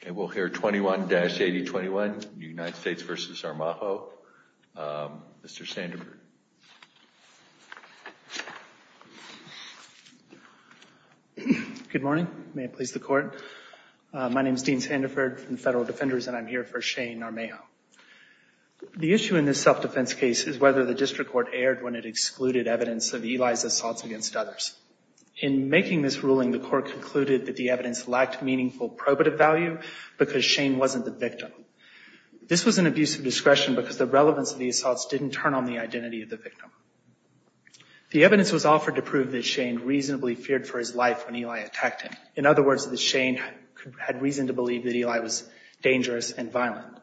Good morning. May it please the court. My name is Dean Sandiford from the Federal Defenders and I'm here for Shane Armajo. The issue in this self-defense case is whether the district court erred when it excluded evidence of Eli's assaults against others. In making this ruling, the court concluded that the evidence lacked meaningful probative value because Shane wasn't the victim. This was an abuse of discretion because the relevance of the assaults didn't turn on the identity of the victim. The evidence was offered to prove that Shane reasonably feared for his life when Eli attacked him. In other words, that Shane had reason to believe that Eli was dangerous and violent.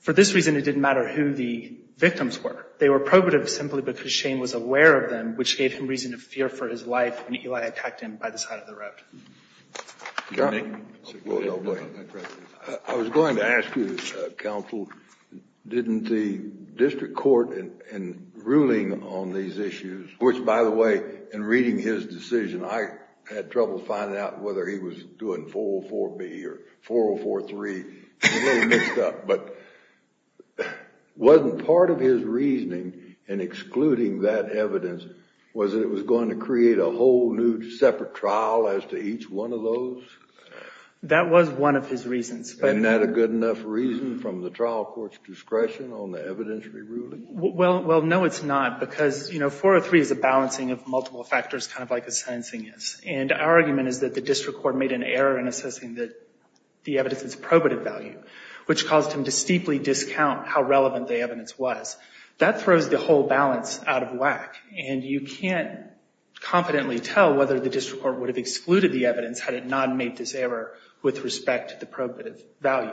For this reason, it didn't matter who the victims were. They were probative simply because Shane was aware of them, which gave him reason to fear for his life when Eli attacked him by the side of the road. I was going to ask you, counsel, didn't the district court in ruling on these issues, which by the way, in reading his decision, I had trouble finding out whether he was doing 404B or 4043. It was a little mixed up, but wasn't part of his reasoning in separate trial as to each one of those? That was one of his reasons. Isn't that a good enough reason from the trial court's discretion on the evidentiary ruling? Well, no, it's not because 403 is a balancing of multiple factors, kind of like a sentencing is. And our argument is that the district court made an error in assessing the evidence's probative value, which caused him to steeply discount how relevant the evidence was. That throws the whole balance out of whack, and you can't confidently tell whether the district court would have excluded the evidence had it not made this error with respect to the probative value.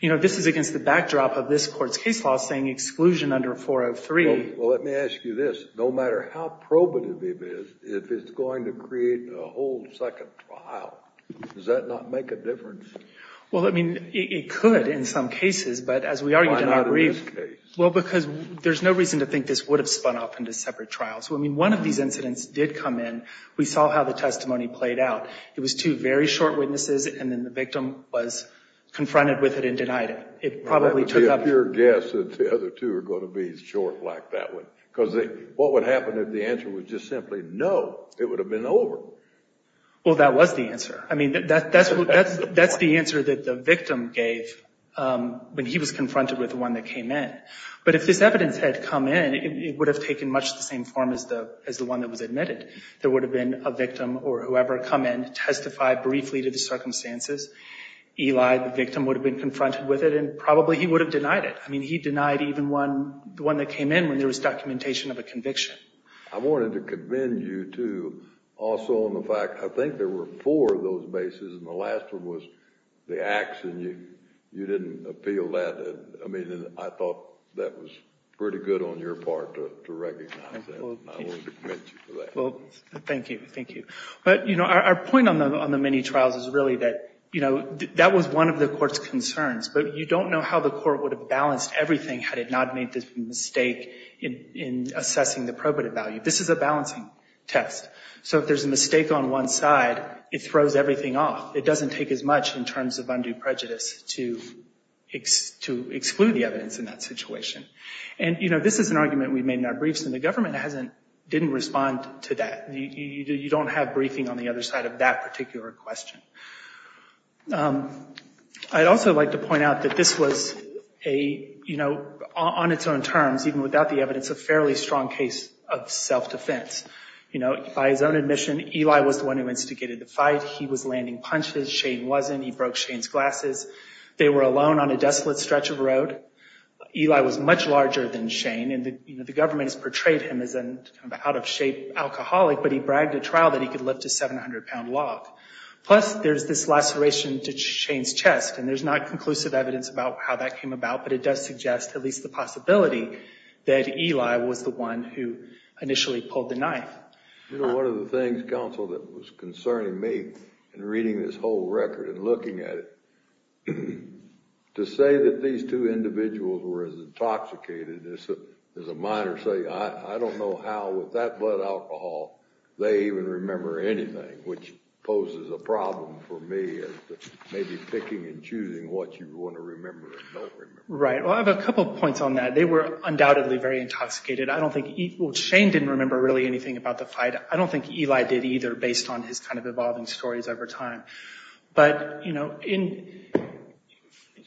You know, this is against the backdrop of this court's case law saying exclusion under 403. Well, let me ask you this. No matter how probative it is, if it's going to create a whole second trial, does that not make a difference? Well, I mean, it could in some cases, but as we argued in our brief. Why not in this case? Well, because there's no reason to think this would have spun off into separate trials. I mean, one of these incidents did come in. We saw how the testimony played out. It was two very short witnesses, and then the victim was confronted with it and denied it. It probably took up. I would be a pure guess that the other two are going to be short like that one, because what would happen if the answer was just simply no, it would have been over. Well, that was the answer. I mean, that's the answer that the victim gave when he was confronted with the one that came in. But if this evidence had come in, it would have taken much the same form as the one that was admitted. There would have been a victim or whoever come in, testified briefly to the circumstances. Eli, the victim, would have been confronted with it, and probably he would have denied it. I mean, he denied even the one that came in when there was documentation of a conviction. I wanted to commend you, too, also on the fact, I think there were four of those bases, and the last one was the ax, and you didn't appeal that. I mean, I thought that was pretty good on your part to recognize that, and I wanted to commend you for that. Well, thank you. Thank you. But, you know, our point on the many trials is really that, you know, that was one of the court's concerns. But you don't know how the court would have balanced everything had it not made this mistake in assessing the probative value. This is a mistake on one side, it throws everything off. It doesn't take as much in terms of undue prejudice to exclude the evidence in that situation. And, you know, this is an argument we made in our briefs, and the government hasn't, didn't respond to that. You don't have briefing on the other side of that particular question. I'd also like to point out that this was a, you know, on its own terms, even without the evidence, a fairly strong case of self-defense. You know, by his own admission, Eli was the one who instigated the fight. He was landing punches. Shane wasn't. He broke Shane's glasses. They were alone on a desolate stretch of road. Eli was much larger than Shane, and the government has portrayed him as an out-of-shape alcoholic, but he bragged at trial that he could lift a 700-pound log. Plus, there's this laceration to Shane's chest, and there's not conclusive evidence about how that came about, but it does suggest at least the possibility that Eli was the one who initially pulled the knife. You know, one of the things, counsel, that was concerning me in reading this whole record and looking at it, to say that these two individuals were as intoxicated as a minor, say, I don't know how with that blood alcohol they even remember anything, which poses a problem for me as to be picking and choosing what you want to remember or don't remember. Right. Well, I have a couple points on that. They were undoubtedly very intoxicated. I don't think, well, Shane didn't remember really anything about the fight. I don't think Eli did either based on his kind of evolving stories over time, but you know,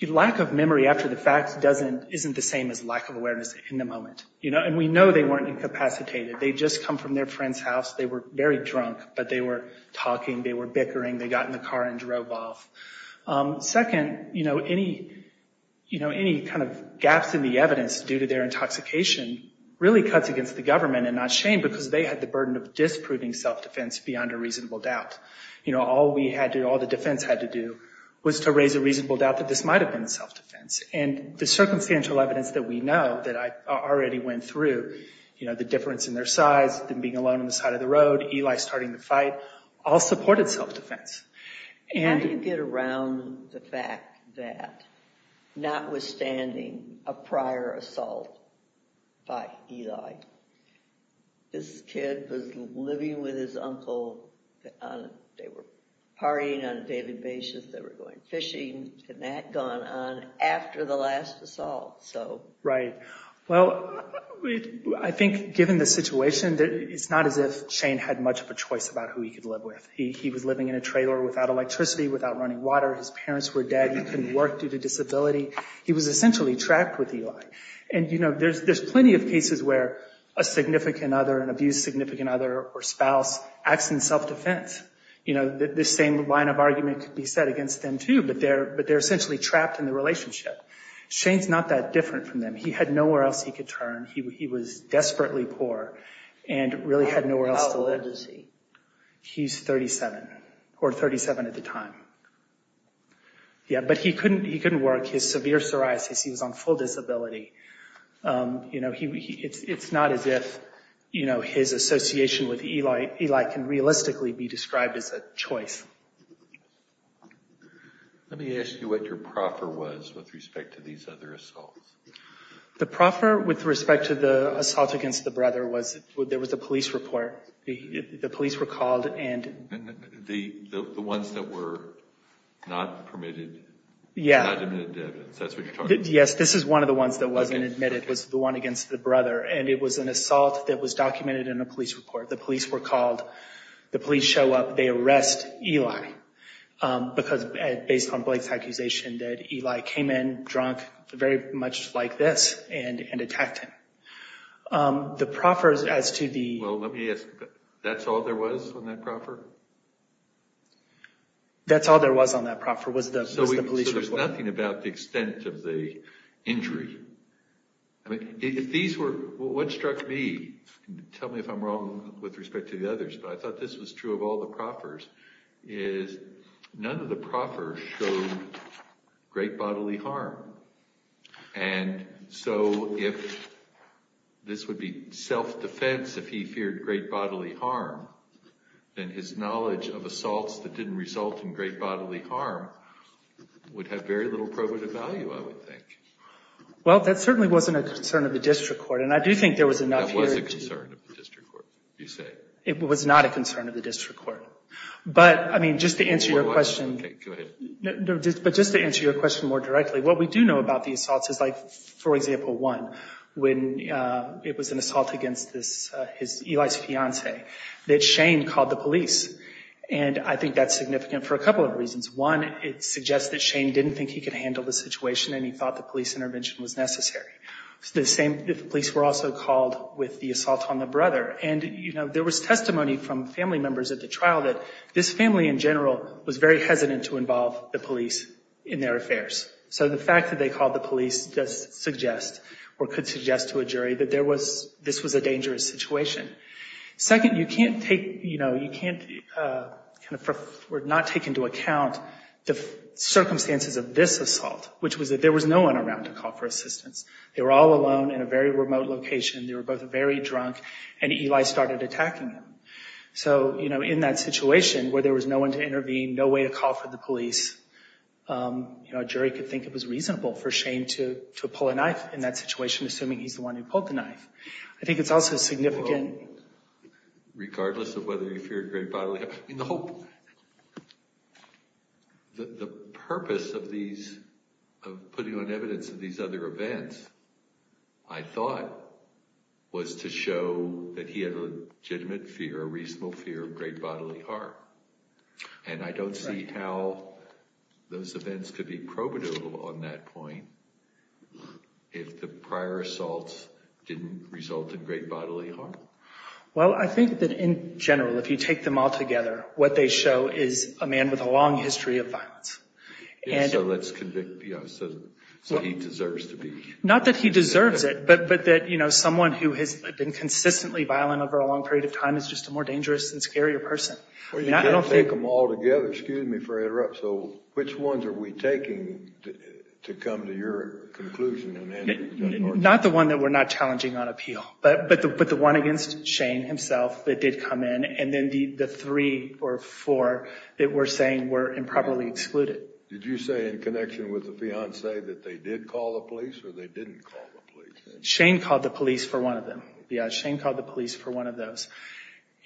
lack of memory after the fact doesn't, isn't the same as lack of awareness in the moment, you know, and we know they weren't incapacitated. They'd just come from their friend's house. They were very drunk, but they were talking. They were bickering. They got in the car and drove off. Second, you know, any, you know, any kind of gaps in the evidence due to their intoxication really cuts against the government and not Shane because they had the burden of disproving self-defense beyond a reasonable doubt. You know, all we had to, all the defense had to do was to raise a reasonable doubt that this might have been self-defense, and the circumstantial evidence that we know that I already went through, you know, the difference in their size, them being alone on the side of the road, Eli starting the fight, all supported self-defense. How do you get around the fact that notwithstanding a prior assault by Eli, this kid was living with his uncle on, they were partying on a daily basis. They were going fishing and that had gone on after the last assault, so. Right. Well, I think given the situation, it's not as if Shane had much of a choice about who he could live with. He was living in a trailer without electricity, without running water. His parents were dead. He couldn't work due to disability. He was essentially trapped with Eli. And, you know, there's plenty of cases where a significant other, an abused significant other or spouse acts in self-defense. You know, the same line of argument could be set against them too, but they're essentially trapped in the relationship. Shane's not that different from them. He had nowhere else he could turn. He was desperately poor and really had nowhere else to live. How old is he? He's 37 or 37 at the time. Yeah, but he couldn't, he couldn't work. His severe psoriasis, he was on full disability. You know, he, it's not as if, you know, his association with Eli can realistically be described as a choice. Let me ask you what your proffer was with respect to these other assaults. The proffer with respect to the assault against the brother was there was a police report. The police were called and the ones that were not permitted. Yeah. Yes. This is one of the ones that wasn't admitted. It was the one against the brother and it was an assault that was documented in a police report. The police were called, the police show up, they arrest Eli because based on Blake's accusation that Eli came in drunk, very much like this, and attacked him. The proffers as to the... Well, let me ask, that's all there was on that proffer? That's all there was on that proffer was the police report. So there's nothing about the extent of the injury. I mean, if these were, what struck me, tell me if I'm wrong with respect to others, but I thought this was true of all the proffers, is none of the proffers showed great bodily harm. And so if this would be self-defense, if he feared great bodily harm, then his knowledge of assaults that didn't result in great bodily harm would have very little probative value, I would think. Well, that certainly wasn't a concern of the district court, you say? It was not a concern of the district court. But, I mean, just to answer your question... Okay, go ahead. No, but just to answer your question more directly, what we do know about the assaults is like, for example, one, when it was an assault against Eli's fiancée, that Shane called the police. And I think that's significant for a couple of reasons. One, it suggests that Shane didn't think he could handle the situation and he thought the police were also called with the assault on the brother. And, you know, there was testimony from family members at the trial that this family in general was very hesitant to involve the police in their affairs. So the fact that they called the police does suggest, or could suggest to a jury, that there was, this was a dangerous situation. Second, you can't take, you know, you can't, kind of, not take into account the circumstances of this assault, which was that there was no one to call for assistance. They were all alone in a very remote location. They were both very drunk and Eli started attacking them. So, you know, in that situation where there was no one to intervene, no way to call for the police, you know, a jury could think it was reasonable for Shane to pull a knife in that situation, assuming he's the one who pulled the knife. I think it's also significant... Regardless of whether you fear a great bodily... I mean, the whole... The purpose of these, of putting on evidence of these other events, I thought, was to show that he had a legitimate fear, a reasonable fear of great bodily harm. And I don't see how those events could be probative on that point if the prior assaults didn't result in great bodily harm. Well, I think that in general, if you take them all together, what they show is a man with a long history of violence. And so let's convict, you know, so he deserves to be... Not that he deserves it, but that, you know, someone who has been consistently violent over a long period of time is just a more dangerous and scarier person. Or you can't take them all together, excuse me for interruption, so which ones are we taking to come to your conclusion? Not the one that we're not challenging on appeal, but the one against Shane himself that did come in, and then the three or four that we're saying were improperly excluded. Did you say in connection with the fiancé that they did call the police or they didn't call the police? Shane called the police for one of them. Yeah, Shane called the police for one of those.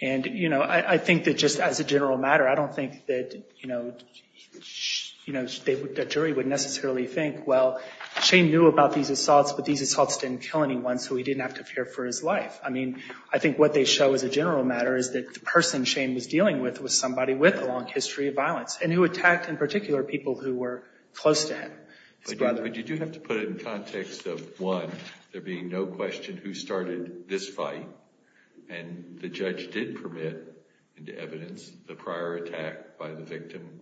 And, you know, I think that just as a general matter, I don't think that, you know, the jury would necessarily think, well, Shane knew about these things. He didn't have to fear for his life. I mean, I think what they show as a general matter is that the person Shane was dealing with was somebody with a long history of violence and who attacked in particular people who were close to him. But you do have to put it in context of, one, there being no question who started this fight, and the judge did permit into evidence the prior attack by the victim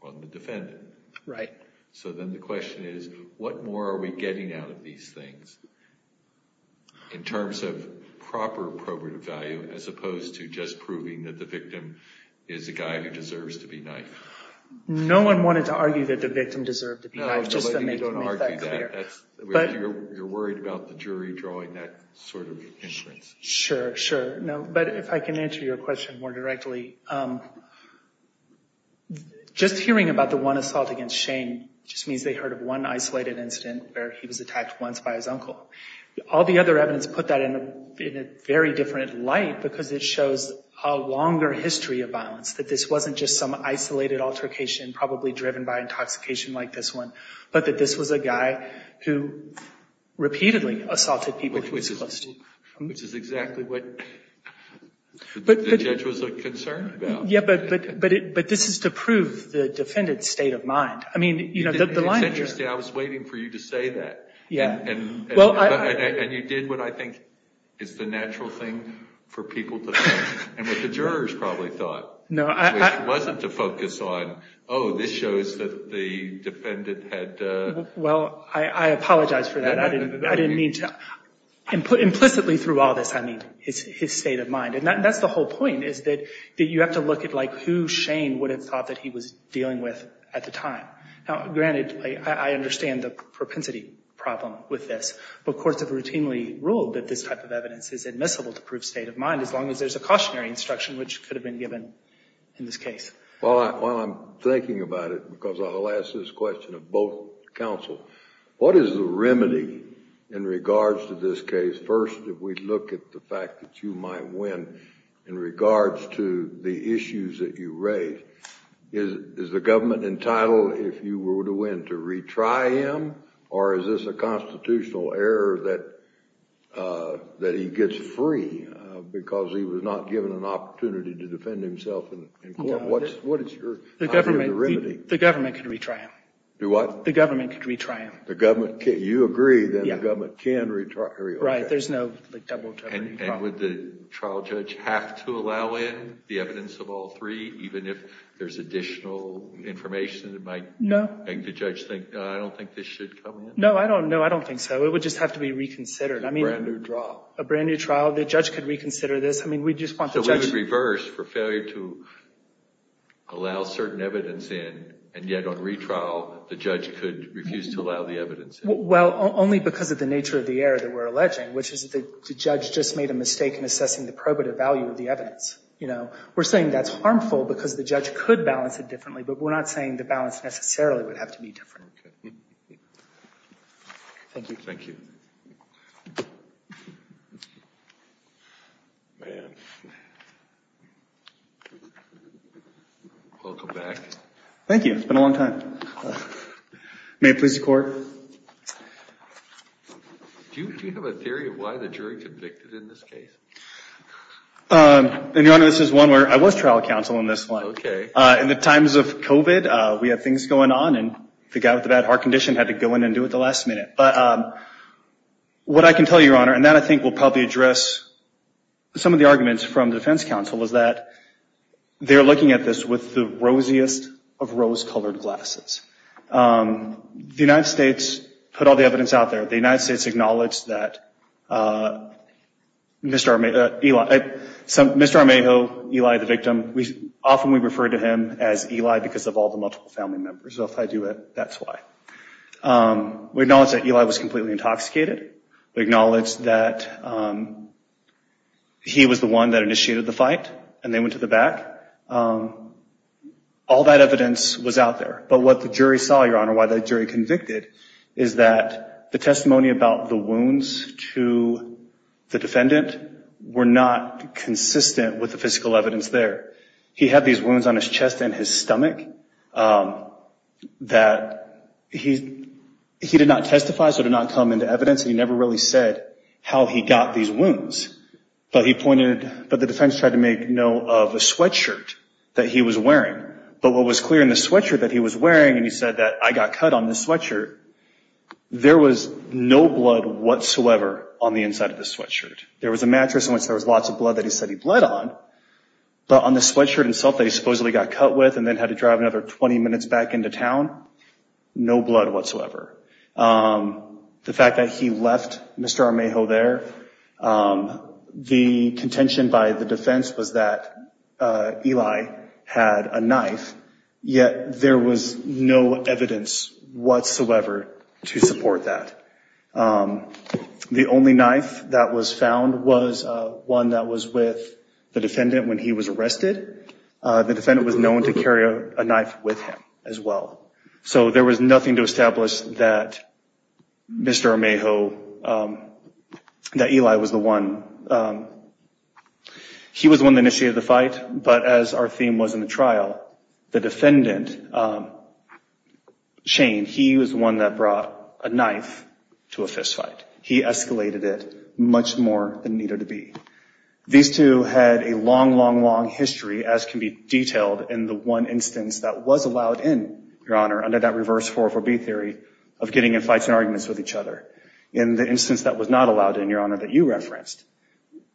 on the defendant. Right. So then the question is, what more are we in terms of proper probative value as opposed to just proving that the victim is a guy who deserves to be knifed? No one wanted to argue that the victim deserved to be knifed. You're worried about the jury drawing that sort of inference. Sure, sure. No, but if I can answer your question more directly, just hearing about the one assault against Shane just means they heard of one isolated incident where he was attacked once by his uncle. All the other evidence put that in a very different light because it shows a longer history of violence, that this wasn't just some isolated altercation probably driven by intoxication like this one, but that this was a guy who repeatedly assaulted people who were close to him. Which is exactly what the judge was concerned about. Yeah, but this is to prove the defendant's state of mind. I mean, it's interesting, I was waiting for you to say that. And you did what I think is the natural thing for people to think, and what the jurors probably thought, which wasn't to focus on, oh, this shows that the defendant had... Well, I apologize for that. I didn't mean to... Implicitly through all this, I mean, his state of mind. And that's the whole point, is that you have to look at who Shane would have thought that he was dealing with at the time. Granted, I understand the propensity problem with this, but courts have routinely ruled that this type of evidence is admissible to prove state of mind as long as there's a cautionary instruction which could have been given in this case. Well, I'm thinking about it because I'll ask this question of both counsel. What is the remedy in regards to this case? First, if we look at the fact that you might win in regards to the issues that you raise, is the government entitled, if you were to win, to retry him? Or is this a constitutional error that he gets free because he was not given an opportunity to defend himself in court? What is your remedy? The government could retry him. Do what? The government could retry him. You agree that the government can retry him? There's no double jeopardy. And would the trial judge have to allow in the evidence of all three, even if there's additional information that might make the judge think, no, I don't think this should come in? No, I don't think so. It would just have to be reconsidered. A brand new trial, the judge could reconsider this. So we would reverse for failure to allow certain evidence in, and yet on retrial, the judge could refuse to allow the evidence in? Well, only because of the judge just made a mistake in assessing the probative value of the evidence. We're saying that's harmful because the judge could balance it differently, but we're not saying the balance necessarily would have to be different. Thank you. Thank you. Welcome back. Thank you. It's been a long time. May it please the court. Do you have a theory of why the jury convicted in this case? Your Honor, this is one where I was trial counsel in this one. In the times of COVID, we have things going on, and the guy with the bad heart condition had to go in and do it at the last minute. But what I can tell you, Your Honor, and that I think will probably address some of the arguments from the defense counsel, is that they're looking at this with the rosiest of rose-colored glasses. The United States put all the evidence out there. The United States acknowledged that Mr. Armejo, Eli, the victim, often we refer to him as Eli because of all the multiple family members. So if I do it, that's why. We acknowledge that Eli was completely intoxicated. We acknowledge that he was the one that initiated the fight, and they went to the out there. But what the jury saw, Your Honor, why the jury convicted, is that the testimony about the wounds to the defendant were not consistent with the physical evidence there. He had these wounds on his chest and his stomach that he did not testify, so it did not come into evidence, and he never really said how he got these wounds. But the defense tried to make note of a sweatshirt that he was wearing, but what was clear in the sweatshirt that he was wearing, and he said that, I got cut on this sweatshirt, there was no blood whatsoever on the inside of the sweatshirt. There was a mattress in which there was lots of blood that he said he bled on, but on the sweatshirt itself that he supposedly got cut with and then had to drive another 20 minutes back into town, no blood whatsoever. The fact that he left Mr. Armejo there, the contention by the defense was that Eli had a knife, yet there was no evidence whatsoever to support that. The only knife that was found was one that was with the defendant when he was arrested. The defendant was known to carry a knife with him as well. So there was nothing to establish that Mr. Armejo, that Eli was the one, he was the one that initiated the fight, but as our theme was in the trial, the defendant, Shane, he was the one that brought a knife to a fistfight. He escalated it much more than needed to be. These two had a long, long, long history, as can be detailed in the one instance that was allowed in, Your Honor, under that reverse 404B theory of getting in fights and arguments with each other. In the instance that was not allowed in, Your Honor, that you referenced,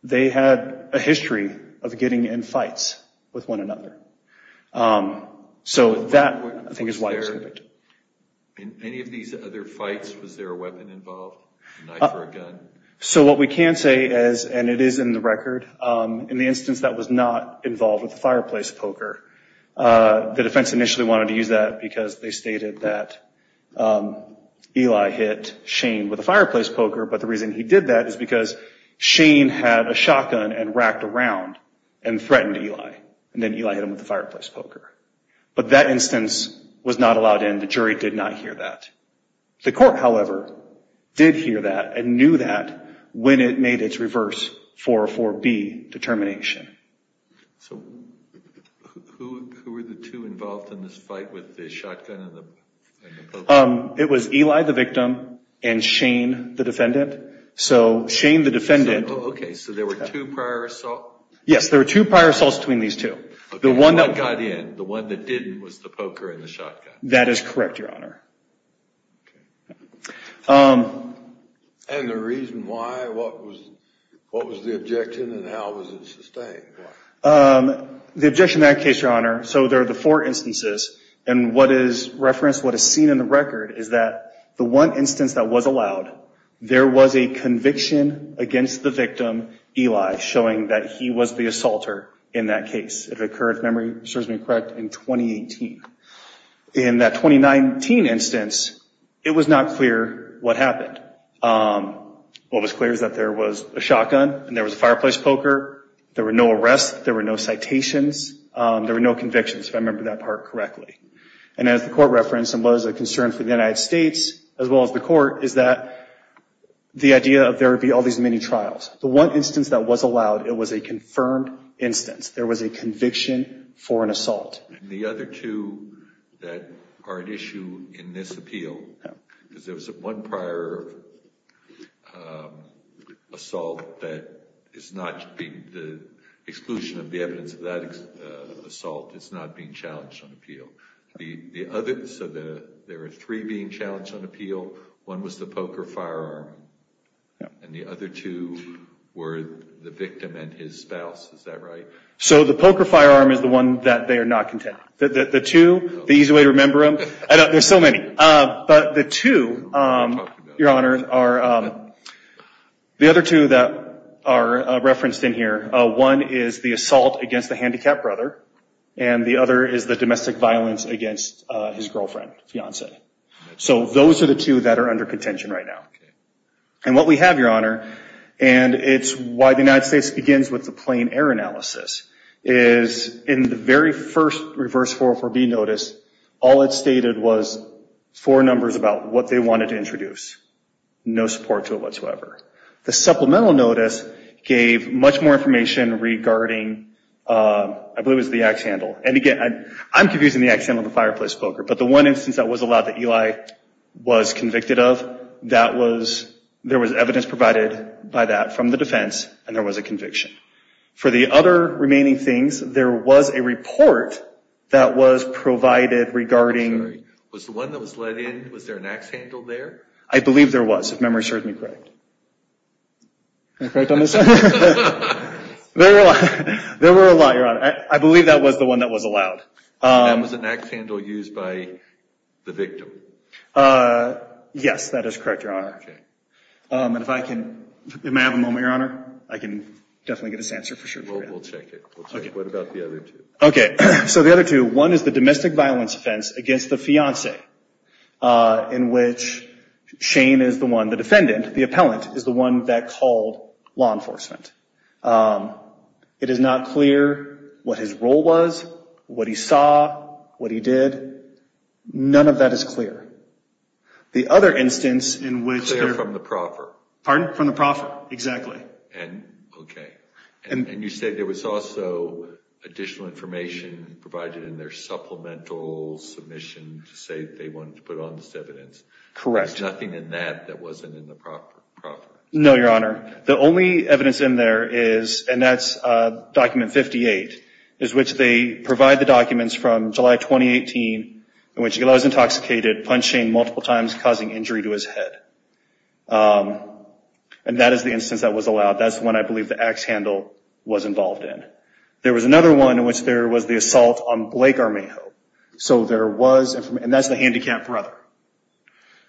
they had a history of getting in fights with one another. So that, I think, is why it was there. In any of these other fights, was there a weapon involved, a knife or a gun? So what we can say is, and it is in the record, in the instance that was not involved with the fight, Eli hit Shane with a fireplace poker, but the reason he did that is because Shane had a shotgun and racked around and threatened Eli, and then Eli hit him with the fireplace poker. But that instance was not allowed in. The jury did not hear that. The court, however, did hear that and knew that when it made its reverse 404B determination. So who were the two involved in this fight with the shotgun and the poker? It was Eli, the victim, and Shane, the defendant. So Shane, the defendant... Okay, so there were two prior assaults? Yes, there were two prior assaults between these two. The one that got in, the one that didn't, was the poker and the shotgun. That is correct, Your Honor. Okay. And the reason why, what was the objection and how was it sustained? The objection in that case, Your Honor, so there are the four instances, and what is referenced, what is seen in the record is that the one instance that was allowed, there was a conviction against the victim, Eli, showing that he was the assaulter in that case. It occurred, if memory serves me correct, in 2018. In that 2019 instance, it was not clear what happened. What was clear is that there was a shotgun and there was a fireplace poker. There were no arrests. There were no citations. There were no convictions, if I remember that part correctly. And as the court referenced, and was a concern for the United States, as well as the court, is that the idea of there would be all these many trials. The one instance that was allowed, it was a confirmed instance. There was a conviction for an assault. The other two that are at issue in this appeal, because there was one prior assault that is not being, the exclusion of the evidence of that assault is not being challenged on appeal. The other, so there are three being challenged on appeal. One was the poker firearm, and the other two were the victim and his spouse. Is that right? So the poker firearm is the one that they are not contending. The two, the easy way to remember them, there's so many. But the two, your honor, are the other two that are referenced in here. One is the assault against the handicapped brother, and the other is the domestic violence against his girlfriend, fiance. So those are the two that are under contention right now. And what we have, your honor, and it's why the United States begins with the plain error analysis. Is in the very first reverse 404B notice, all it stated was four numbers about what they wanted to introduce. No support to it whatsoever. The supplemental notice gave much more information regarding, I believe it was the axe handle. And again, I'm confusing the axe handle and the fireplace poker. But the one instance that was allowed that Eli was convicted of, that was, there was evidence provided by that from the defense, and there was a conviction. For the other remaining things, there was a report that was provided regarding. I'm sorry, was the one that was let in, was there an axe handle there? I believe there was, if memory serves me correct. Can I correct on this? There were a lot, your honor. I believe that was the one that was allowed. And that was an axe handle used by the victim. Yes, that is correct, your honor. Okay. And if I can, may I have a moment, your honor? I can definitely get this answer for sure. We'll check it. We'll check it. What about the other two? Okay. So the other two, one is the domestic violence offense against the fiance, in which Shane is the one, the defendant, the appellant, is the one that called law enforcement. It is not clear what his role was, what he saw, what he did. None of that is clear. The other instance in which. From the proffer. Pardon? From the proffer. Exactly. And okay. And you say there was also additional information provided in their supplemental submission to say they wanted to put on this evidence. Correct. Nothing in that that wasn't in the proffer. No, your honor. The only evidence in there is, and that's document 58, is which they provide the documents from July 2018, in which he was intoxicated, punching multiple times, causing injury to his head. And that is the instance that was allowed. That's when I believe the axe handle was involved in. There was another one in which there was the assault on Blake Armejo. So there was, and that's the handicapped brother.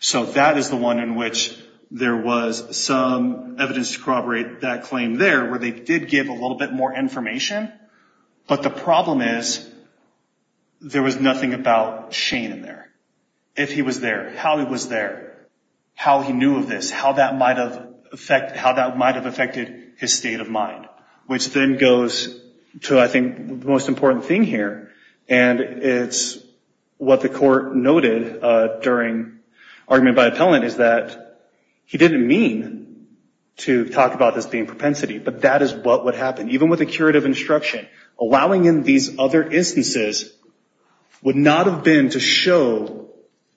So that is the one in which there was some evidence to corroborate that claim there, where they did give a little bit more information. But the problem is, there was nothing about Shane in there. If he was there, how he was there. How he knew of this, how that might have affected his state of mind. Which then goes to, I think, the most important thing here. And it's what the court noted during argument by appellant is that he didn't mean to talk about this being propensity. But that is what would happen. Even with a curative instruction, allowing in these other instances would not have been to show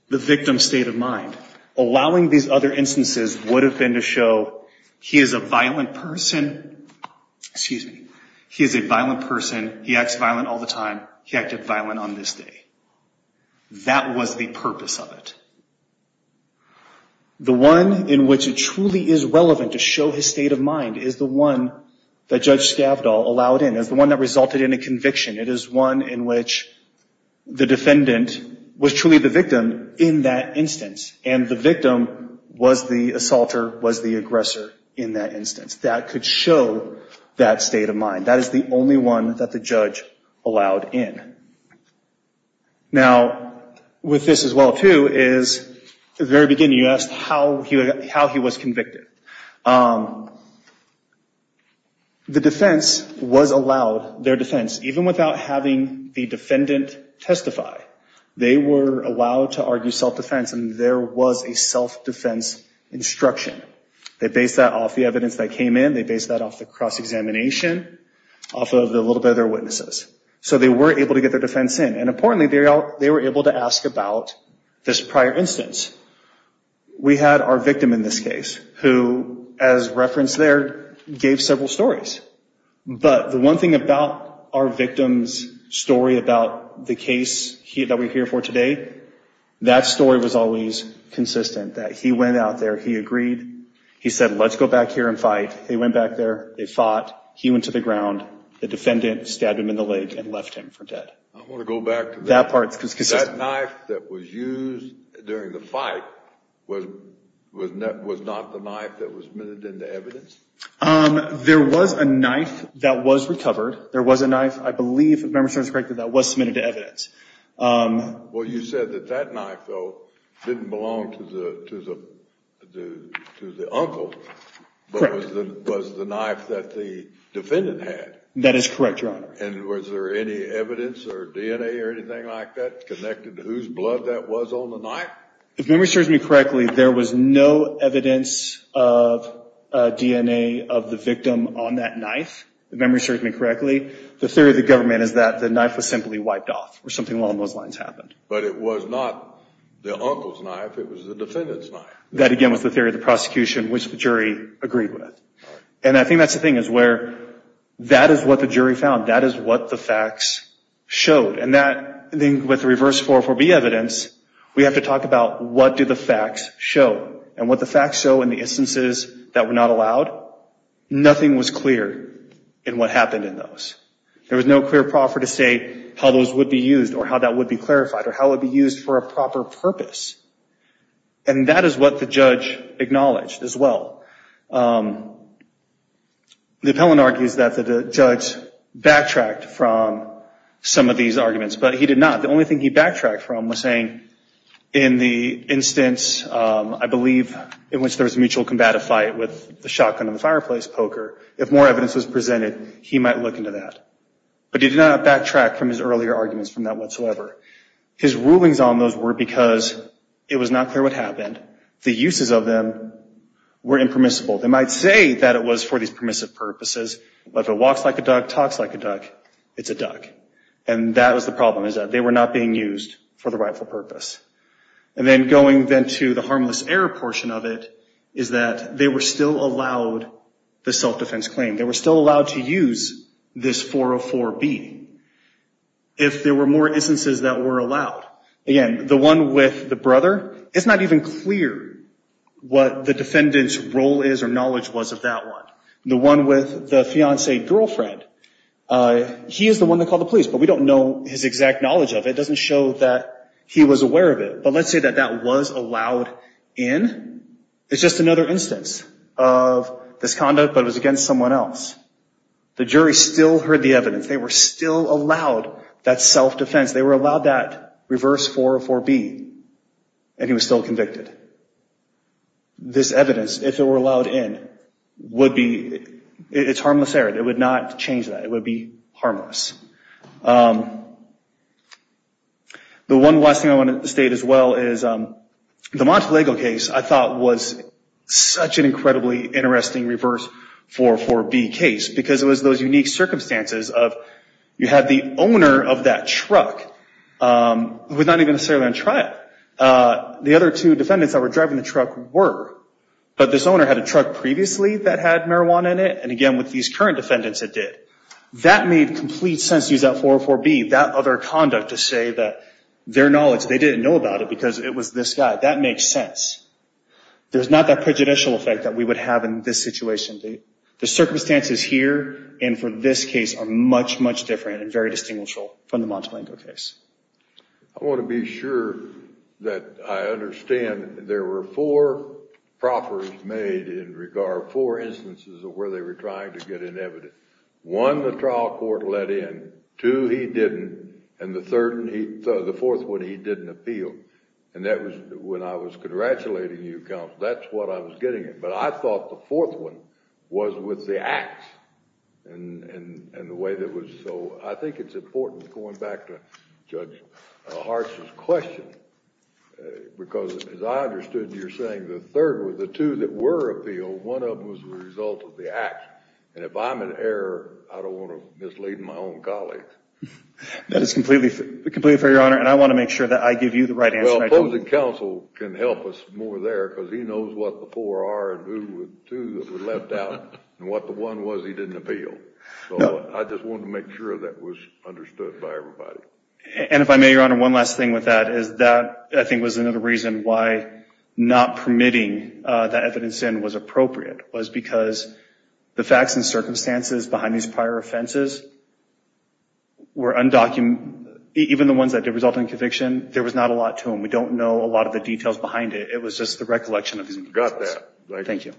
the victim's state of mind. Allowing these other instances would have been to show he is a violent person. Excuse me. He is a violent person. He acts violent all the time. He acted violent on this day. That was the purpose of it. The one in which it truly is relevant to show his state of mind is the one that Judge Scavdall allowed in. It's the one that resulted in a conviction. It is one in which the defendant was truly the victim in that instance. The victim was the assaulter, was the aggressor in that instance. That could show that state of mind. That is the only one that the judge allowed in. Now, with this as well, too, is the very beginning, you asked how he was convicted. The defense was allowed, their defense, even without having the defendant testify, they were allowed to argue self-defense and there was a self-defense instruction. They based that off the evidence that came in. They based that off the cross-examination, off of the little bit of their witnesses. So they were able to get their defense in. And importantly, they were able to ask about this prior instance. We had our victim in this case who, as referenced there, gave several stories. But the one thing about our victim's story about the case that we're here for today, that story was always consistent. That he went out there, he agreed. He said, let's go back here and fight. They went back there. They fought. He went to the ground. The defendant stabbed him in the leg and left him for dead. I want to go back to that part because that knife that was used during the fight was not the knife that was minted into evidence? There was a knife that was recovered. There was a knife, I believe, if memory serves me correctly, that was submitted to evidence. Well, you said that that knife, though, didn't belong to the uncle, but was the knife that the defendant had. That is correct, Your Honor. And was there any evidence or DNA or anything like that connected to whose blood that was on the knife? If memory serves me correctly, there was no evidence of DNA of the victim on that knife, if memory serves me correctly. The theory of the government is that the knife was simply wiped off or something along those lines happened. But it was not the uncle's knife. It was the defendant's knife. That, again, was the theory of the prosecution, which the jury agreed with. And I think that's the thing, is where that is what the jury found. That is what the facts showed. And that, I think, with reverse 44B evidence, we have to talk about what do the facts show? And what the facts show in the instances that were not allowed, nothing was clear in what happened in those. There was no clear proffer to say how those would be used or how that would be clarified or how it would be used for a proper purpose. And that is what the judge acknowledged as well. The appellant argues that the judge backtracked from some of these arguments. But he did not. The only thing he backtracked from was saying, in the instance, I believe, in which there was a mutual combative fight with the shotgun and the fireplace poker, if more evidence was presented, he might look into that. But he did not backtrack from his earlier arguments from that whatsoever. His rulings on those were because it was not clear what happened. The uses of them were impermissible. They might say that it was for these permissive purposes. But if it walks like a duck, talks like a duck, it's a duck. And that was the problem, is that they were not being used for the rightful purpose. And then going then to the harmless error portion of it, is that they were still allowed the self-defense claim. They were still allowed to use this 404B if there were more instances that were allowed. Again, the one with the brother, it's not even clear what the defendant's role is or knowledge was of that one. The one with the fiancee girlfriend, he is the one that called the police. But we don't know his exact knowledge of it. It doesn't show that he was aware of it. But let's say that that was allowed in. It's just another instance of this conduct, but it was against someone else. The jury still heard the evidence. They were still allowed that self-defense. They were allowed that reverse 404B, and he was still convicted. This evidence, if it were allowed in, would be, it's harmless error. It would not change that. It would be harmless. The one last thing I want to state as well is, the Monte Lego case, I thought was such an incredibly interesting reverse 404B case, because it was those unique circumstances of, you had the owner of that truck, who was not even necessarily on trial. The other two defendants that were driving the truck were. But this owner had a truck previously that had marijuana in it. And again, with these current defendants, it did. That made complete sense to use that 404B, that other conduct, to say that their knowledge, they didn't know about it because it was this guy. That makes sense. There's not that prejudicial effect that we would have in this situation. The circumstances here and for this case are much, much different and very distinguishable from the Monte Lego case. I want to be sure that I understand. There were four proffers made in regard, four instances, of where they were trying to get in evidence. One, the trial court let in. Two, he didn't. And the fourth one, he didn't appeal. And that was when I was congratulating you, counsel. That's what I was getting at. I thought the fourth one was with the acts. I think it's important, going back to Judge Hart's question, because as I understood, you're saying the third, with the two that were appealed, one of them was the result of the act. And if I'm in error, I don't want to mislead my own colleagues. That is completely fair, Your Honor. And I want to make sure that I give you the right answer. Well, opposing counsel can help us more there, because he knows what the four are, and who the two that were left out, and what the one was he didn't appeal. So I just wanted to make sure that was understood by everybody. And if I may, Your Honor, one last thing with that is that, I think, was another reason why not permitting that evidence in was appropriate, was because the facts and circumstances behind these prior offenses were undocumented. Even the ones that did result in conviction, there was not a lot to them. We don't know a lot of the details behind it. It was just the recollection of these cases. You've got that. Thank you.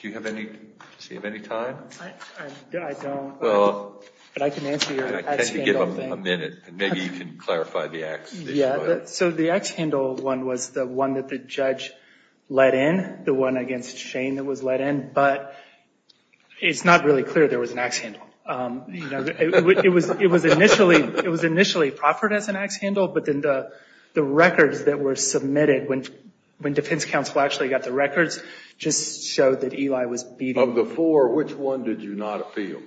Do you have any time? I don't. But I can answer your axe handle thing. I'll give you a minute, and maybe you can clarify the axe issue. Yeah. So the axe handle one was the one that the judge let in, the one against Shane that was let in. But it's not really clear there was an axe handle. You know, it was initially proffered as an axe handle, but then the records that were submitted when defense counsel actually got the records just showed that Eli was beating. Of the four, which one did you not appeal?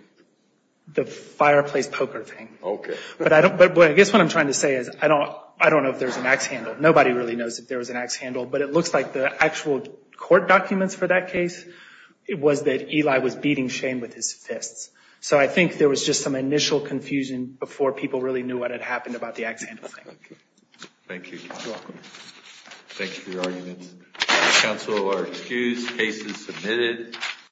The fireplace poker thing. OK. But I guess what I'm trying to say is, I don't know if there's an axe handle. Nobody really knows if there was an axe handle. But it looks like the actual court documents for that case, it was that Eli was beating Shane with his fists. So I think there was just some initial confusion before people really knew what had happened about the axe handle thing. Thank you. Thank you for your arguments. Counsel are excused. Case is submitted.